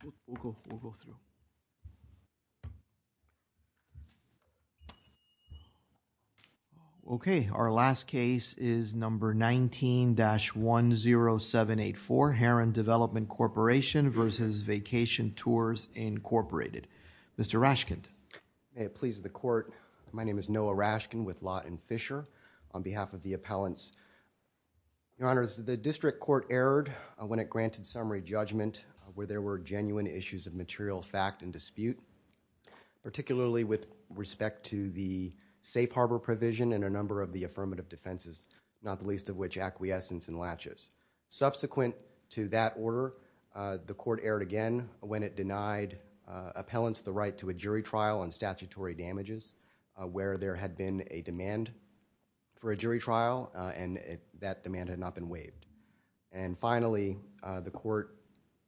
Vacation Tours Inc Okay our last case is number 19-10784 Aaron Development Corporation v. Vacation Tours Incorporated. Mr. Rashkind. May it please the court, my name is Noah Rashkind with Lott & Fisher on behalf of the appellants. Your honors, the district court erred when it granted summary judgment where there were genuine issues of material fact and dispute, particularly with respect to the safe harbor provision and a number of the affirmative defenses, not the least of which acquiescence and laches. Subsequent to that order, the court erred again when it denied appellants the right to a jury trial on statutory damages where there had been a demand for a jury trial and that demand had not been waived. And finally, the court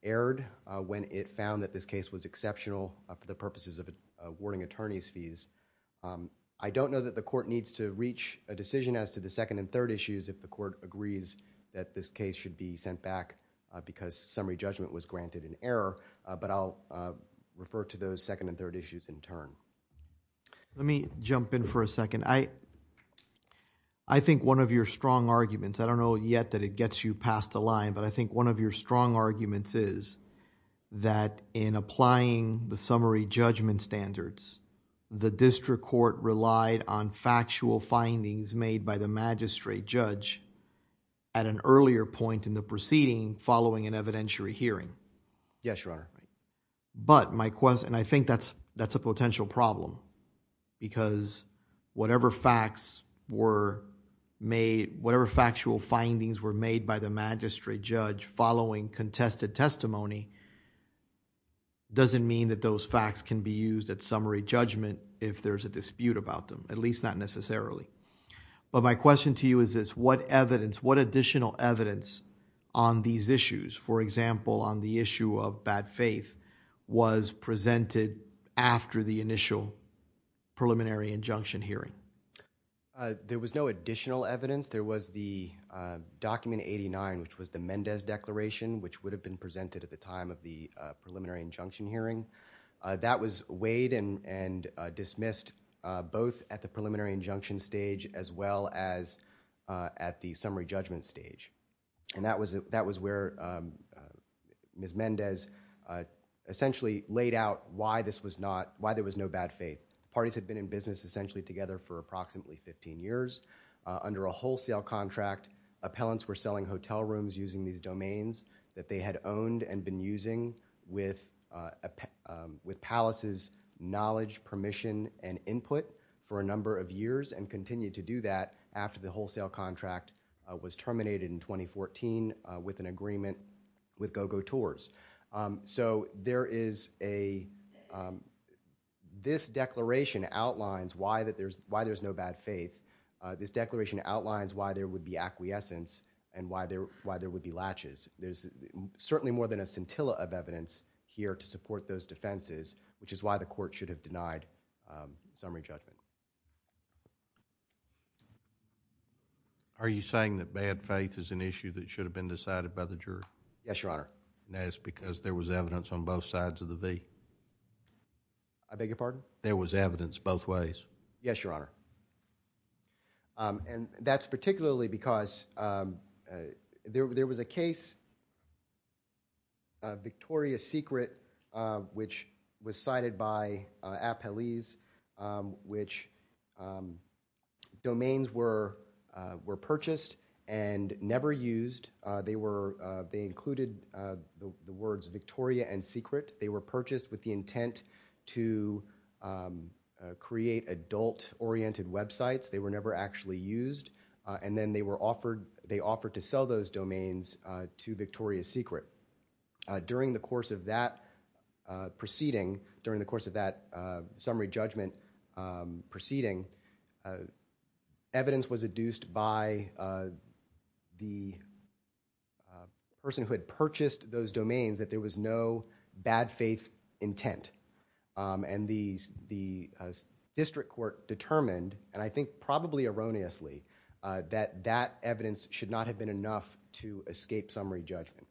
erred when it found that this case was exceptional for the purposes of awarding attorneys fees. I don't know that the court needs to reach a decision as to the second and third issues if the court agrees that this case should be sent back because summary judgment was granted in error, but I'll refer to those second and third issues in turn. Let me jump in for a second. I think one of your strong arguments, I don't know yet that it gets you past the line, but I think one of your strong arguments is that in applying the summary judgment standards, the district court relied on factual findings made by the magistrate judge at an earlier point in the proceeding following an evidentiary hearing. Yes, Your Honor. But my question, and I think that's a potential problem because whatever facts were made, whatever factual findings were made by the magistrate judge following contested testimony doesn't mean that those facts can be used at least not necessarily. But my question to you is this, what additional evidence on these issues, for example, on the issue of bad faith was presented after the initial preliminary injunction hearing? There was no additional evidence. There was the document 89, which was the Mendez declaration, which would have been presented at the time of the preliminary injunction stage as well as at the summary judgment stage. And that was where Ms. Mendez essentially laid out why there was no bad faith. Parties had been in business essentially together for approximately 15 years. Under a wholesale contract, appellants were selling hotel rooms using these domains that they had owned and been using with Palos' knowledge, permission, and input for a number of years and continued to do that after the wholesale contract was terminated in 2014 with an agreement with Go-Go Tours. This declaration outlines why there's no bad faith. This declaration outlines why there would be acquiescence and why there would be latches. There's certainly more than a scintilla of evidence here to support those defenses, which is why the court should have denied summary judgment. Are you saying that bad faith is an issue that should have been decided by the jury? Yes, Your Honor. And that's because there was evidence on both sides of the V? I beg your pardon? There was evidence both ways? Yes, Your Honor. That's particularly because there was a case, Victoria's Secret, which was cited by appellees, which domains were purchased and never used. They included the words Victoria and Secret. They were purchased with the intent to create adult-oriented websites. They were never actually used, and then they offered to sell those domains to Victoria's Secret. During the course of that proceeding, during the course of that summary judgment proceeding, evidence was adduced by the person who had purchased those domains that there was no bad faith intent. The district court determined, and I think probably erroneously, that that evidence should not have been enough to escape summary judgment.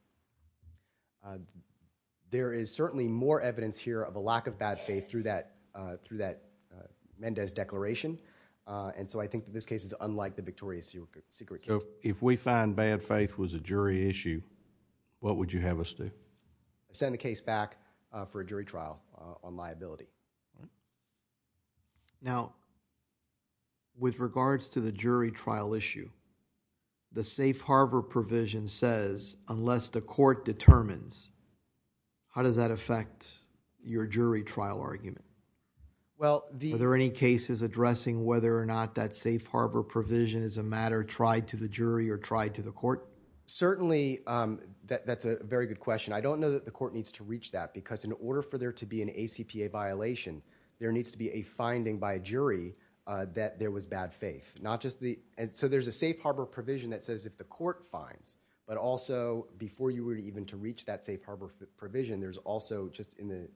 There is certainly more evidence here of a lack of bad faith through that Mendez declaration, and so I think that this case is unlike the Victoria's Secret case. If we find bad faith was a jury issue, what would you have us do? Send the case back for a jury trial on liability. Now, with regards to the jury trial issue, the safe harbor provision says, unless the court determines, how does that affect your jury trial argument? Are there any cases addressing whether or not that safe harbor provision is a matter tried to the jury or tried to the court? Certainly, that's a very good question. I don't know that the court needs to reach that because in order for there to be an ACPA violation, there needs to be a finding by a jury that there was bad faith. There's a safe harbor provision that says if the court finds, but also before you were even to reach that safe harbor provision, there's also just in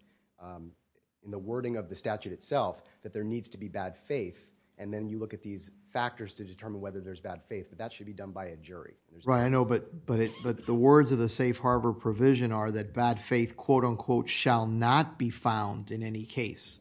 the wording of the statute itself that there needs to be bad faith, and then you look at these factors to determine whether there's bad faith, but that should be done by a jury. Right, I know, but the words of the safe harbor provision are that bad faith shall not be found in any case.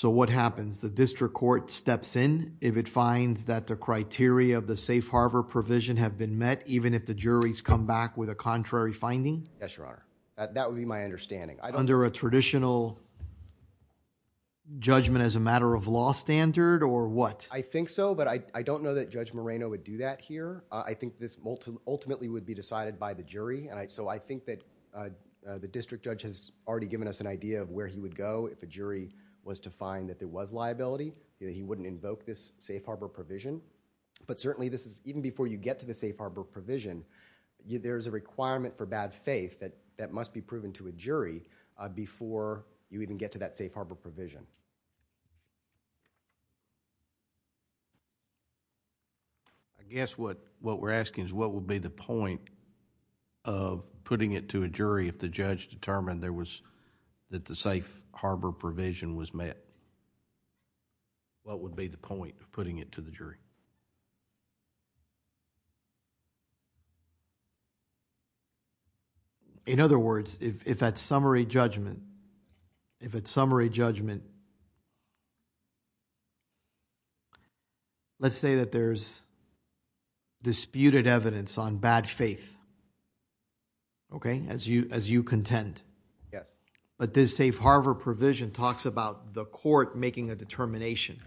What happens? The district court steps in if it finds that the criteria of the safe harbor provision have been met even if the juries come back with a contrary finding? Yes, Your Honor. That would be my understanding. Under a traditional judgment as a matter of law standard or what? I think so, but I don't know that Judge Moreno would do that here. I think this ultimately would be decided by the jury, so I think that the district judge has already given us an idea of where he would go if a jury was to find that there was liability, that he wouldn't invoke this safe harbor provision, but certainly this is, even before you get to the safe harbor provision, there's a requirement for bad faith that must be proven to a jury before you even get to that safe harbor provision. I guess what we're asking is what would be the point of putting it to a jury if the judge determined that the safe harbor provision was met? What would be the point of putting it to the jury? In other words, if at summary judgment... let's say that there's disputed evidence on bad faith as you contend, but this safe harbor provision talks about the court making a determination.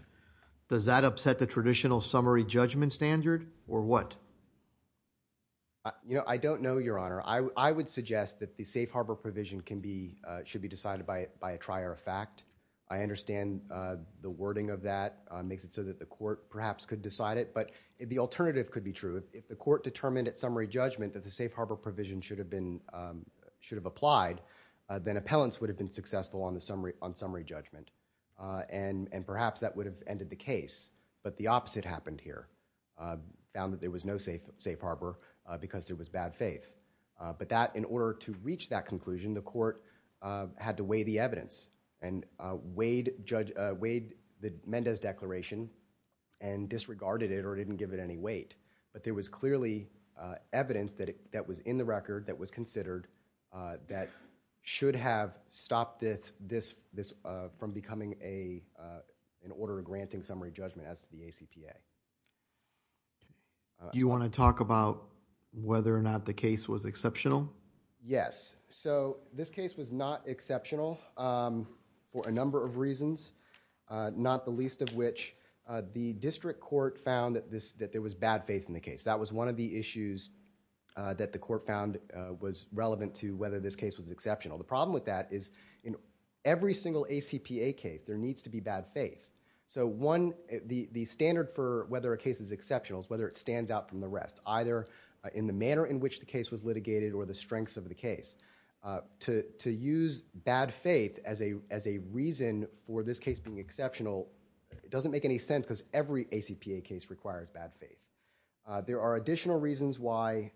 Does that upset the traditional summary judgment standard or what? I don't know, Your Honor. I would suggest that the safe harbor provision should be decided by a trier of fact. I understand the wording of that makes it so that the court perhaps could decide it, but the alternative could be true. If the court determined at summary judgment that the safe harbor provision should have applied, then appellants would have been successful on summary judgment, and perhaps that would have ended the case, but the court had to weigh the evidence and weighed the Mendez declaration and disregarded it or didn't give it any weight. There was clearly evidence that was in the record that was considered that should have stopped this from becoming an order of granting summary judgment as to the ACPA. Do you want to talk about whether or not the case was exceptional? Yes. This case was not exceptional for a number of reasons, not the least of which the district court found that there was bad faith in the case. That was one of the issues that the court found was relevant to whether this case was exceptional. The problem with that is in every single ACPA case, there needs to be bad faith. The standard for whether a case is exceptional is whether it stands out from the rest, either in the manner in which the case was litigated or the strengths of the case. To use bad faith as a reason for this case being exceptional, it doesn't make any sense because every ACPA case requires bad faith. There are additional reasons why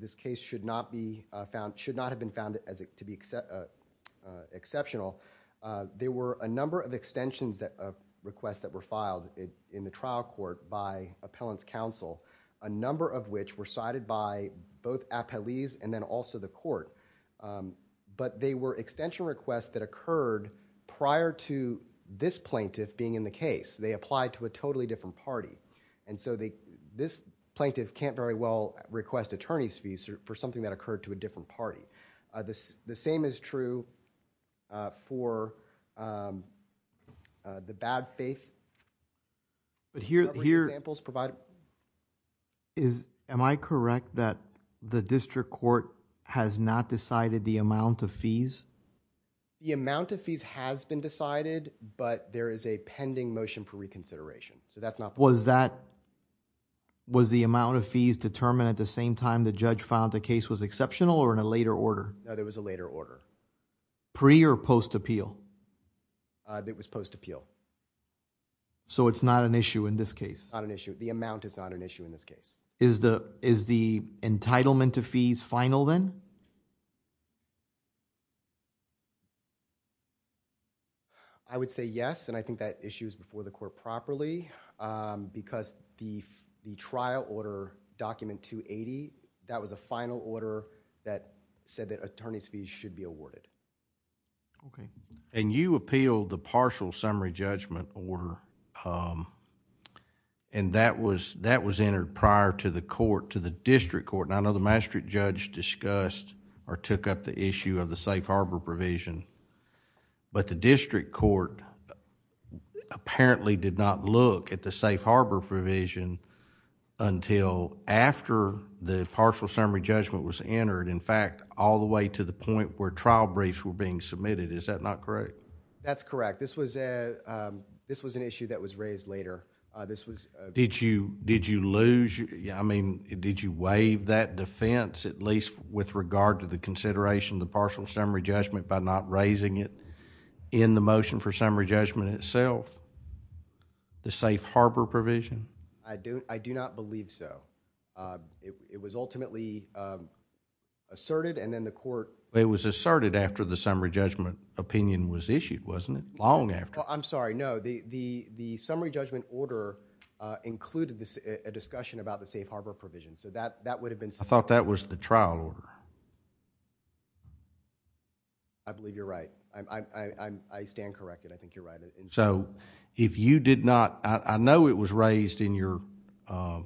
this case should not have been found to be exceptional. There were a number of extensions of requests that were filed in the trial court by appellant's counsel, a number of which were cited by both appellees and then also the court. They were extension requests that occurred prior to this plaintiff being in the case. They applied to a totally different party. This plaintiff can't very well request attorney's fees for something that occurred to a different party. The same is true for the bad faith. Am I correct that the district court has not decided the amount of fees? The amount of fees has been decided, but there is a pending motion for reconsideration. Was the amount of fees determined at the same time the judge found the case exceptional or in a later order? No, there was a later order. Pre or post appeal? It was post appeal. It's not an issue in this case? Not an issue. The amount is not an issue in this case. Is the entitlement of fees final then? I would say yes, and I think that issue is before the court properly because the trial order document 280, that was a final order that said that attorney's fees should be awarded. You appealed the partial summary judgment order and that was entered prior to the district court. I know the Maastricht judge discussed or took up the issue of the safe harbor provision, but the district court apparently did not look at the safe harbor provision until after the partial summary judgment was entered. In fact, all the way to the point where trial briefs were being submitted. Is that not correct? That's correct. This was an issue that was raised later. Did you waive that defense at least with regard to the consideration of the partial summary judgment by not raising it in the motion for summary judgment itself, the safe harbor provision? I do not believe so. It was ultimately asserted and then the court... It was asserted after the summary judgment opinion was issued, wasn't it? Long after. I'm sorry, no. The summary judgment order included a discussion about the safe harbor provision, so that would have been... I thought that was the trial order. I believe you're right. I stand corrected. I think you're right. If you did not... I know it was raised, I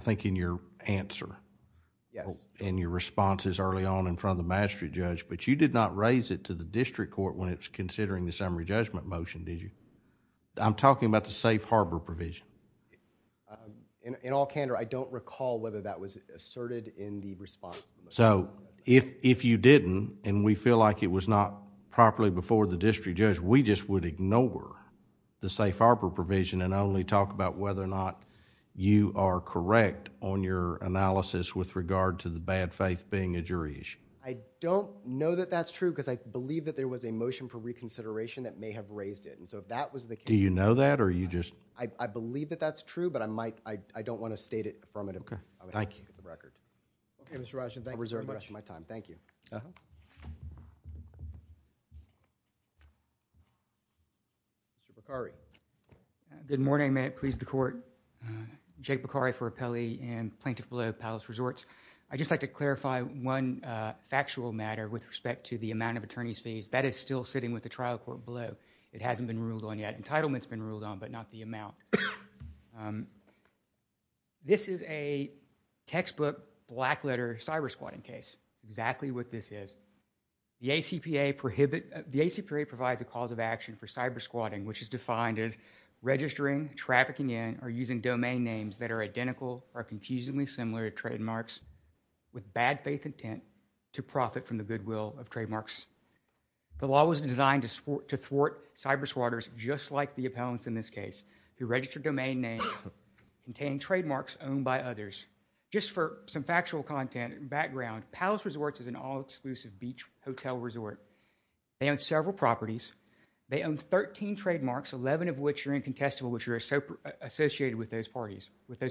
think, in your answer, in your responses early on in front of the Maastricht judge, but you did not raise it to the district court when it was considering the summary judgment motion, did you? I'm talking about the safe harbor provision. In all candor, I don't recall whether that was asserted in the response. If you didn't, and we feel like it was not properly before the district judge, we just would ignore the safe harbor provision and only talk about whether or not you are correct on your analysis with regard to the bad faith being a jury issue. I don't know that that's true because I believe that there was a motion for reconsideration that may have raised it. If that was the case... Do you know that or are you just... I believe that that's true, but I don't want to state it affirmatively. Thank you. Okay, Mr. Rajan, thank you very much. I'll reserve the rest of my time. Mr. Beccari. Good morning. May it please the Court. Jake Beccari for Appellee and Plaintiff Below, Palace Resorts. I'd just like to clarify one factual matter with respect to the amount of attorney's fees. That is still sitting with the trial court below. It hasn't been ruled on yet. Entitlement's been ruled on, but not the amount. This is a textbook, black letter, cyber squatting case. Exactly what this is. The ACPA provides a cause of action for cyber squatting, which is defined as registering, trafficking in, or using domain names that are identical or confusingly similar to trademarks with bad faith intent to profit from the goodwill of trademarks. The law was designed to thwart cyber squatters just like the registered domain names containing trademarks owned by others. Just for some factual content and background, Palace Resorts is an all-exclusive beach hotel resort. They own several properties. They own 13 trademarks, 11 of which are incontestable, which are associated with those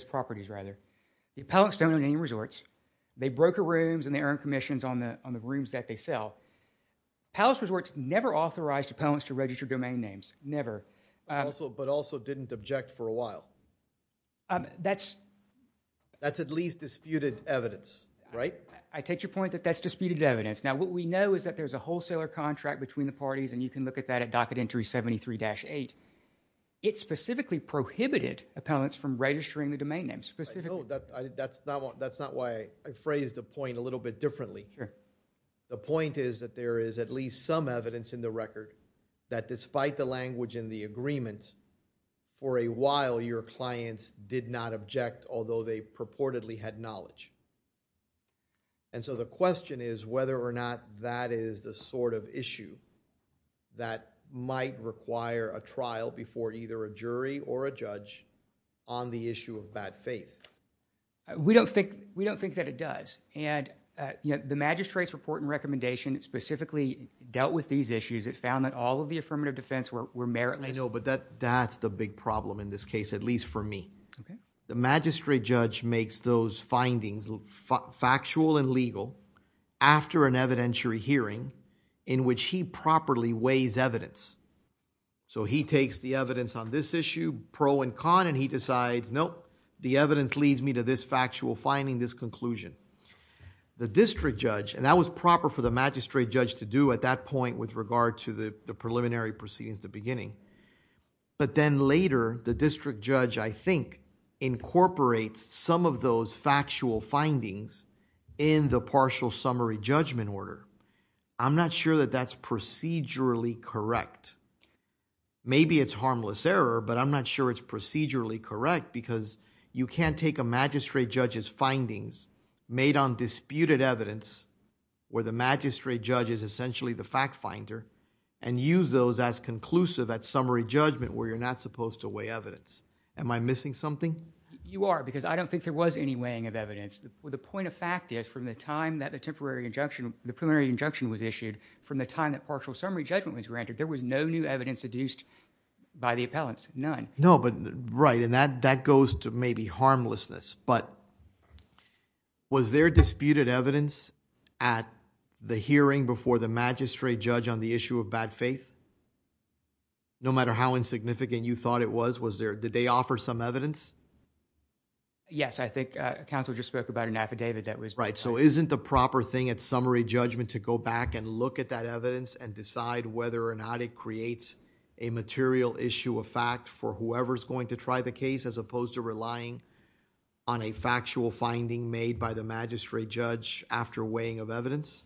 properties. The appellants don't own any resorts. They broker rooms and they earn commissions on the rooms that they sell. Palace Resorts never authorized appellants to register domain names. Never. But also didn't object for a while. That's at least disputed evidence, right? I take your point that that's disputed evidence. Now what we know is that there's a wholesaler contract between the parties, and you can look at that at Docket Entry 73-8. It specifically prohibited appellants from registering the domain names. That's not why I phrased the point a little bit differently. The point is that there is at least some evidence in the record that despite the language in the agreement, for a while your clients did not object, although they purportedly had knowledge. The question is whether or not that is the sort of issue that might require a trial before either a jury or a judge on the issue of bad faith. We don't think that it does. The magistrate's report and recommendation specifically dealt with these issues. It found that all of the affirmative defense were meritless. I know, but that's the big problem in this case, at least for me. The magistrate judge makes those findings factual and legal after an evidentiary hearing in which he properly weighs evidence. He takes the evidence on this issue, pro and con, and he decides, nope, the evidence leads me to this factual finding, this conclusion. The district judge, and that was proper for the magistrate judge to do at that point with regard to the preliminary proceedings at the beginning, but then later the district judge, I think, incorporates some of those factual findings in the partial summary judgment order. I'm not sure that that's procedurally correct. Maybe it's harmless error, but I'm not sure it's procedurally correct because you can't take a magistrate judge's findings made on disputed evidence where the magistrate judge is essentially the fact finder and use those as conclusive at summary judgment where you're not supposed to weigh evidence. Am I missing something? You are, because I don't think there was any weighing of evidence. The point of fact is from the time that the preliminary injunction was issued, from the time that partial summary judgment was granted, there was no new evidence adduced by the appellants, none. Right, and that goes to maybe harmlessness, but was there disputed evidence at the hearing before the magistrate judge on the issue of bad faith? No matter how insignificant you thought it was, did they offer some evidence? Yes, I think counsel just spoke about an affidavit. Right, so isn't the proper thing at summary judgment to go back and look at that evidence and decide whether or not it creates a material issue of fact for whoever is going to try the case as opposed to relying on a factual finding made by the magistrate judge after weighing of evidence?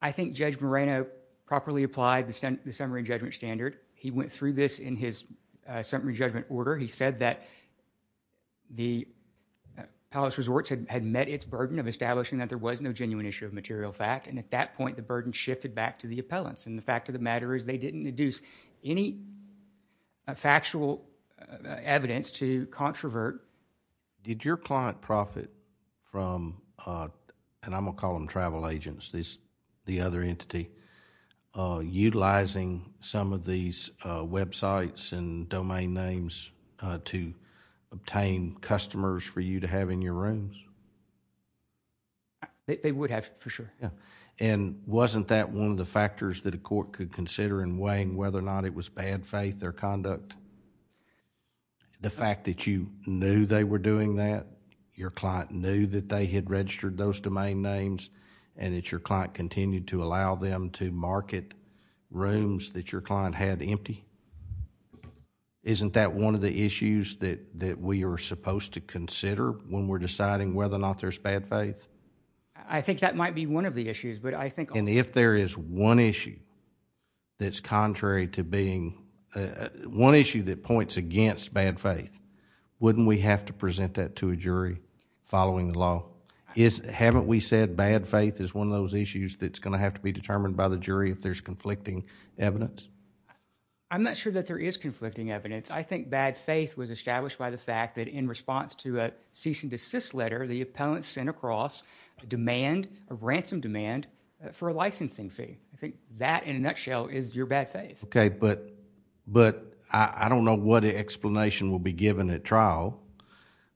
I think Judge Moreno properly applied the summary judgment standard. He went through this in his summary judgment order. He said that the palace resorts had met its burden of establishing that there was no genuine issue of material fact, and at that point the burden shifted back to the appellants. The fact of the matter is they didn't deduce any factual evidence to from, and I'm going to call them travel agents, the other entity, utilizing some of these websites and domain names to obtain customers for you to have in your rooms. They would have, for sure. Wasn't that one of the factors that a court could consider in weighing whether or not it was bad faith or conduct? The fact that you knew they were doing that, your client knew that they had registered those domain names, and that your client continued to allow them to market rooms that your client had empty? Isn't that one of the issues that we are supposed to consider when we're deciding whether or not there's bad faith? I think that might be one of the issues, but I think... If there is one issue that's contrary to being... one issue that points against bad faith, wouldn't we have to present that to a jury following the law? Haven't we said bad faith is one of those issues that's going to have to be determined by the jury if there's conflicting evidence? I'm not sure that there is conflicting evidence. I think bad faith was established by the fact that in response to a cease and desist letter, the appellant sent across a demand, a ransom demand for a licensing fee. I think that in a nutshell is your bad faith. I don't know what explanation will be given at trial,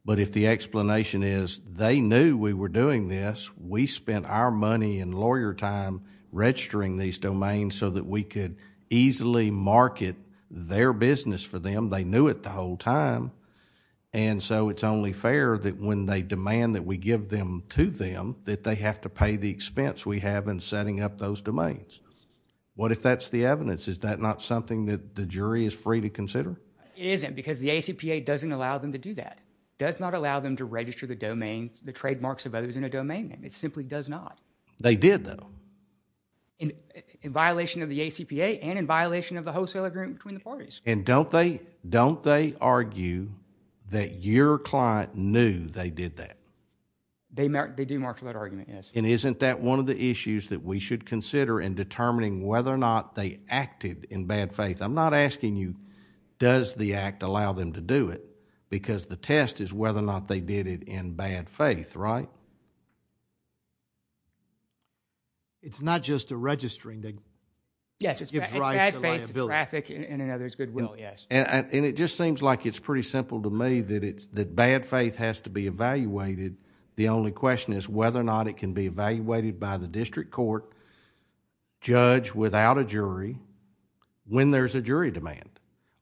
but if the explanation is they knew we were doing this, we spent our money and lawyer time registering these domains so that we could easily market their business for time, and so it's only fair that when they demand that we give them to them, that they have to pay the expense we have in setting up those domains. What if that's the evidence? Is that not something that the jury is free to consider? It isn't because the ACPA doesn't allow them to do that. It does not allow them to register the domains, the trademarks of others in a domain name. It simply does not. They did though. In violation of the ACPA and in violation of the wholesaler agreement between the parties. Don't they argue that your client knew they did that? They do mark for that argument, yes. Isn't that one of the issues that we should consider in determining whether or not they acted in bad faith? I'm not asking you does the act allow them to do it because the test is whether or not they did it in bad faith, right? It's not just a registering thing. Yes, it's bad faith to traffic in another's good will, yes. It just seems like it's pretty simple to me that bad faith has to be evaluated. The only question is whether or not it can be evaluated by the district court judge without a jury when there's a jury demand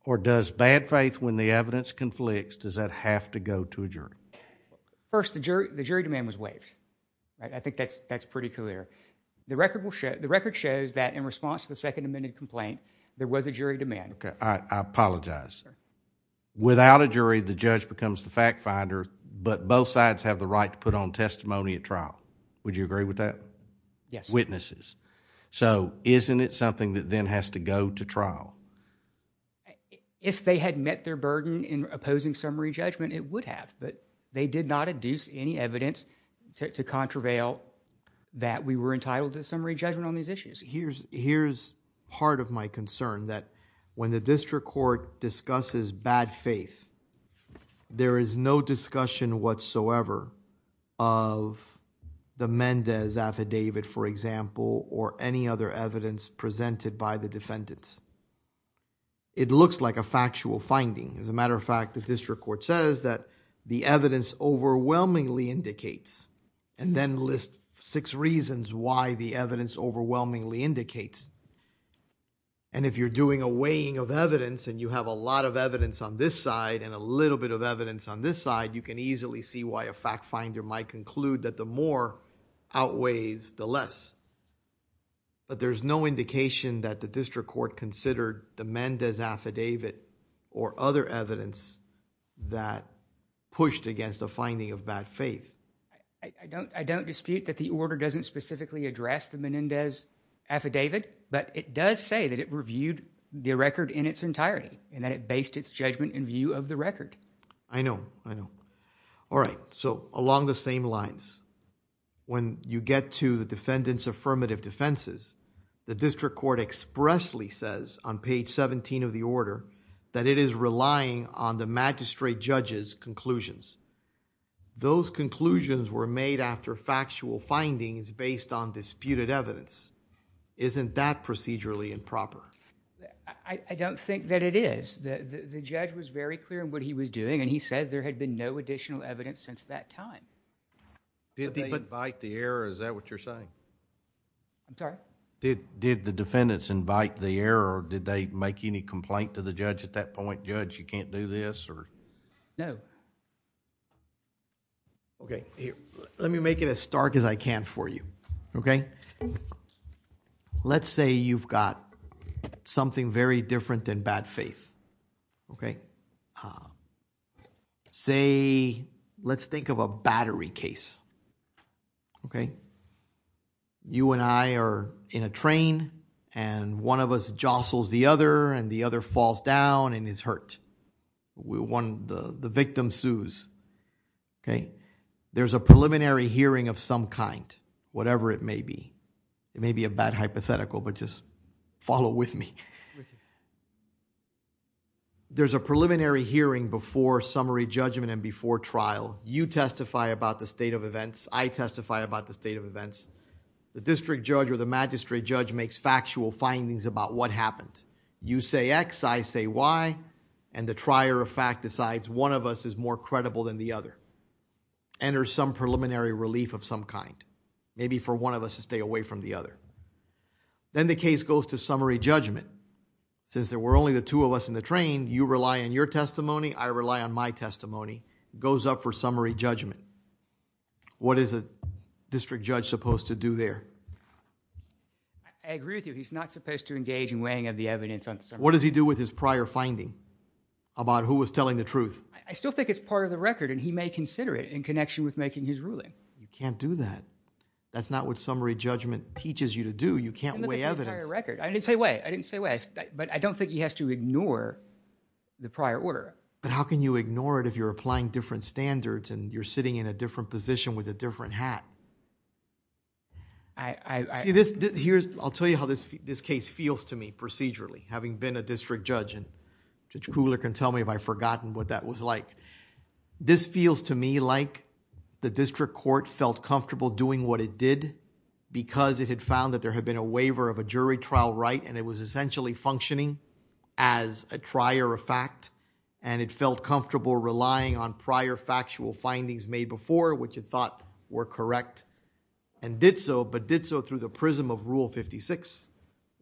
or does bad faith when the evidence conflicts, does that have to go to a jury? First, the jury demand was waived. I think that's pretty clear. The record shows that in response to the Second Amendment complaint, there was a jury demand. I apologize. Without a jury, the judge becomes the fact finder but both sides have the right to put on testimony at trial. Would you agree with that? Yes. Witnesses. Isn't it something that then has to go to trial? If they had met their burden in opposing summary judgment, it would have but they did not induce any evidence to contravail that we were entitled to summary judgment on these issues. Here's part of my concern that when the district court discusses bad faith, there is no discussion whatsoever of the Mendez affidavit for example or any other evidence presented by the defendants. It looks like a factual finding. As a matter of fact, the district court says that the evidence overwhelmingly indicates and then list six reasons why the evidence overwhelmingly indicates and if you're doing a weighing of evidence and you have a lot of evidence on this side and a little bit of evidence on this side, you can easily see why a fact finder might conclude that the more outweighs the less but there's no indication that the district court considered the Mendez affidavit or other evidence that pushed against the finding of bad faith. I don't dispute that the order doesn't specifically address the Menendez affidavit but it does say that it reviewed the record in its entirety and that it based its judgment in view of the record. I know. I know. All right. Along the same lines, when you get to the defendant's affirmative defenses, the district court expressly says on page seventeen of the order that it is relying on the magistrate judge's conclusions. Those conclusions were made after factual findings based on disputed evidence. Isn't that procedurally improper? I don't think that it is. The judge was very clear in what he was doing and he says there had been no additional evidence since that time. Did they invite the error? Is that what you're saying? I'm sorry? Did the defendants invite the error or did they make any complaint to the judge at that point? Judge, you can't do this or...? No. Okay. Here. Let me make it as stark as I can for you, okay? Let's say you've got something very different than bad faith, okay? Say, let's think of a battery case, okay? You and I are in a train and one of us jostles the other and the other falls down and is hurt. The victim sues, okay? There's a preliminary hearing of some kind, whatever it may be. It may be a bad hypothetical, but just follow with me. There's a preliminary hearing before summary judgment and before trial. You testify about the state of events. I testify about the state of events. The district judge or the magistrate judge makes factual findings about what happened. You say X, I say Y, and the trier of fact decides one of us is more credible than the other, enters some preliminary relief of some kind, maybe for one of us to stay away from the other. Then the case goes to summary judgment. Since there were only the two of us in the train, you rely on your testimony. I rely on my testimony. It goes up for summary judgment. What is a district judge supposed to do there? I agree with you. He's not supposed to engage in weighing of the evidence on... What does he do with his prior finding about who was telling the truth? I still think it's part of the record and he may consider it in connection with making his ruling. You can't do that. That's not what summary judgment teaches you to do. You can't weigh evidence. I didn't say weigh. I didn't say weigh. I don't think he has to ignore the prior order. How can you ignore it if you're applying different standards and you're sitting in a different position with a different hat? I'll tell you how this case feels to me procedurally, having been a district judge. Judge Kugler can tell me if I've forgotten what that was like. This feels to me like the district court felt comfortable doing what it did because it had found that there had been a waiver of a jury trial right and it was essentially functioning as a trier of fact and it felt comfortable relying on prior factual findings made before which it thought were correct and did so, but did so through the prism of Rule 56,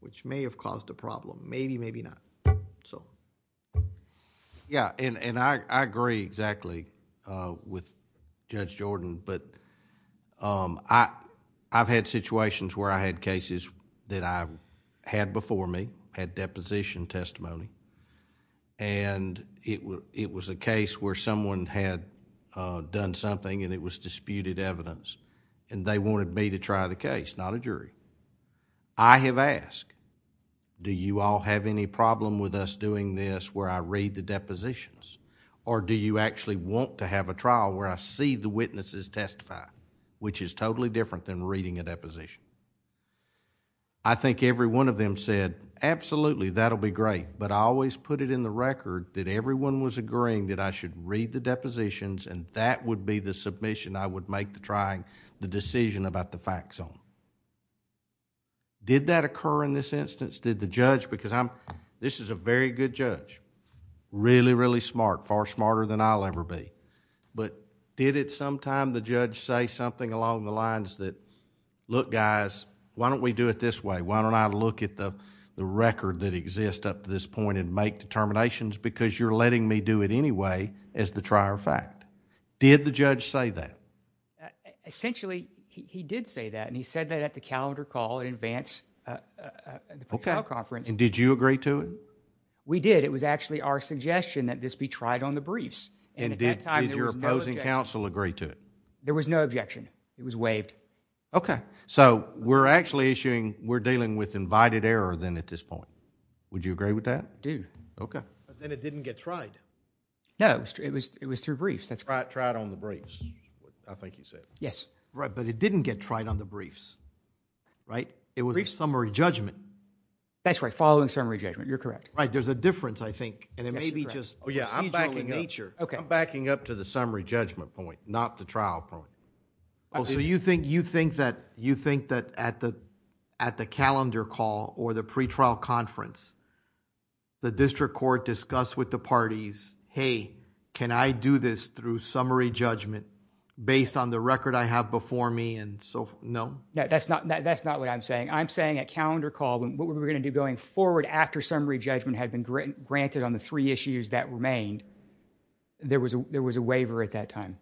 which may have caused a problem. Maybe, maybe not. I agree exactly with Judge Jordan, but I've had situations where I had cases that I had before me, had deposition testimony and it was a case where someone had done something and it was disputed evidence and they wanted me to try the case, not a jury. I have asked, do you all have any problem with us doing this where I read the depositions or do you actually want to have a trial where I see the witnesses testify, which is totally different than reading a deposition? I think every one of them said, absolutely, that'll be great, but I always put it in the record that everyone was agreeing that I should read the depositions and that would be the submission I would make to try the decision about the fact zone. Did that occur in this instance? Did the judge, because this is a very good judge, really, really smart, far smarter than I'll ever be, but did it sometime the judge say something along the lines that, look guys, why don't we do it this way? Why don't I look at the record that exists up to this point and make determinations because you're letting me do it anyway as the trier of fact? Did the judge say that? Essentially, he did say that and he said that at the calendar call in advance of the public trial conference. Did you agree to it? We did. It was actually our suggestion that this be tried on the briefs. At that time, there was no objection. Did your opposing counsel agree to it? There was no objection. It was waived. Okay. We're actually issuing, we're dealing with invited error then at this point. Would you agree with that? I do. Okay. Then it didn't get tried. No. It was through briefs. It was tried on the briefs, I think you said. Yes. Right, but it didn't get tried on the briefs, right? It was a summary judgment. That's right. Following summary judgment. You're correct. Right. There's a difference, I think. Yes, you're correct. It may be just procedurally in nature. I'm backing up to the summary judgment point, not the trial point. Okay. Also, you think that at the calendar call or the pretrial conference, the district court discussed with the parties, hey, can I do this through summary judgment based on the record I have before me and so forth? No. That's not what I'm saying. I'm saying at calendar call, what we were going to do going forward after summary judgment had been granted on the three issues that remained, there was a waiver at that time.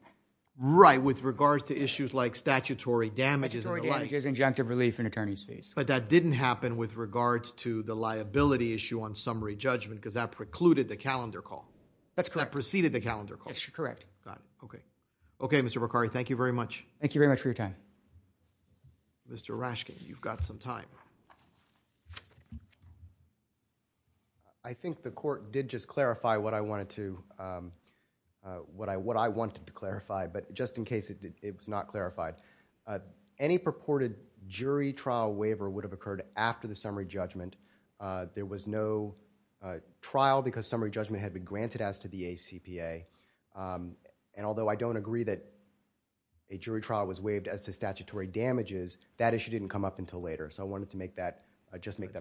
With regards to issues like statutory damages and the like. Statutory damages, injunctive relief, and attorney's fees. That didn't happen with regards to the liability issue on summary judgment because that precluded the calendar call. That's correct. That preceded the calendar call. Yes, you're correct. Got it. Okay. Okay, Mr. Bakari, thank you very much. Thank you very much for your time. Mr. Rashkin, you've got some time. I think the court did just clarify what I wanted to clarify, but just in case it was not clarified. Any purported jury trial waiver would have occurred after the summary judgment. There was no trial because summary judgment had been granted as to the ACPA, and although I don't agree that a jury trial was waived as to statutory damages, that issue didn't come up until later, so I wanted to make that...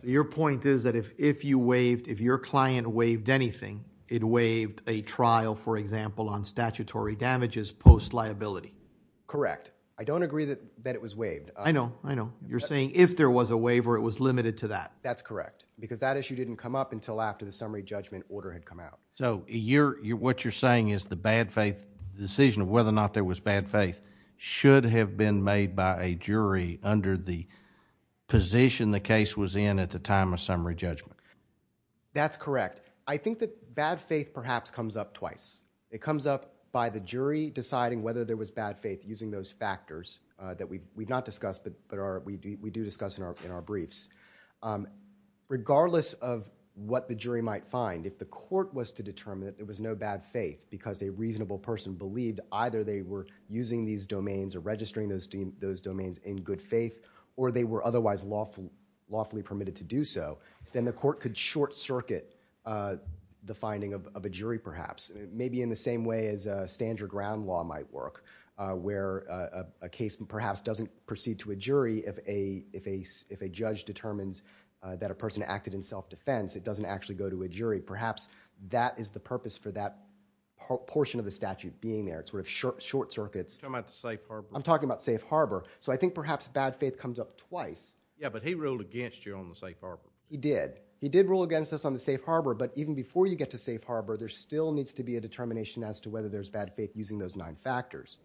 Your point is that if you waived, if your client waived anything, it waived a trial, for example, on statutory damages post-liability. Correct. I don't agree that it was waived. I know. I know. You're saying if there was a waiver, it was limited to that. That's correct, because that issue didn't come up until after the summary judgment order had come out. What you're saying is the bad faith decision of whether or not there was bad faith should have been made by a jury under the position the case was in at the time of summary judgment. That's correct. I think that bad faith perhaps comes up twice. It comes up by the jury deciding whether there was bad faith, using those factors that we've not discussed but we do discuss in our briefs. Regardless of what the jury might find, if the court was to determine that there was no bad faith because a reasonable person believed either they were using these domains or registering those domains in good faith or they were otherwise lawfully permitted to do so, then the court could short-circuit the finding of a jury perhaps, maybe in the same way as a Sandra Ground law might work, where a case perhaps doesn't proceed to a jury if a judge determines that a person acted in self-defense, it doesn't actually go to a jury. Perhaps that is the purpose for that portion of the statute being there, short-circuits. You're talking about the safe harbor? I'm talking about safe harbor. I think perhaps bad faith comes up twice. Yeah, but he ruled against you on the safe harbor. He did. He did rule against us on the safe harbor, but even before you get to safe harbor, there still needs to be a determination as to whether there's bad faith using those nine factors.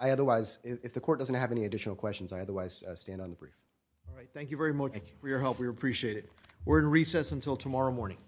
If the court doesn't have any additional questions, I otherwise stand on the brief. All right. Thank you very much for your help. We appreciate it. We're in recess until tomorrow morning.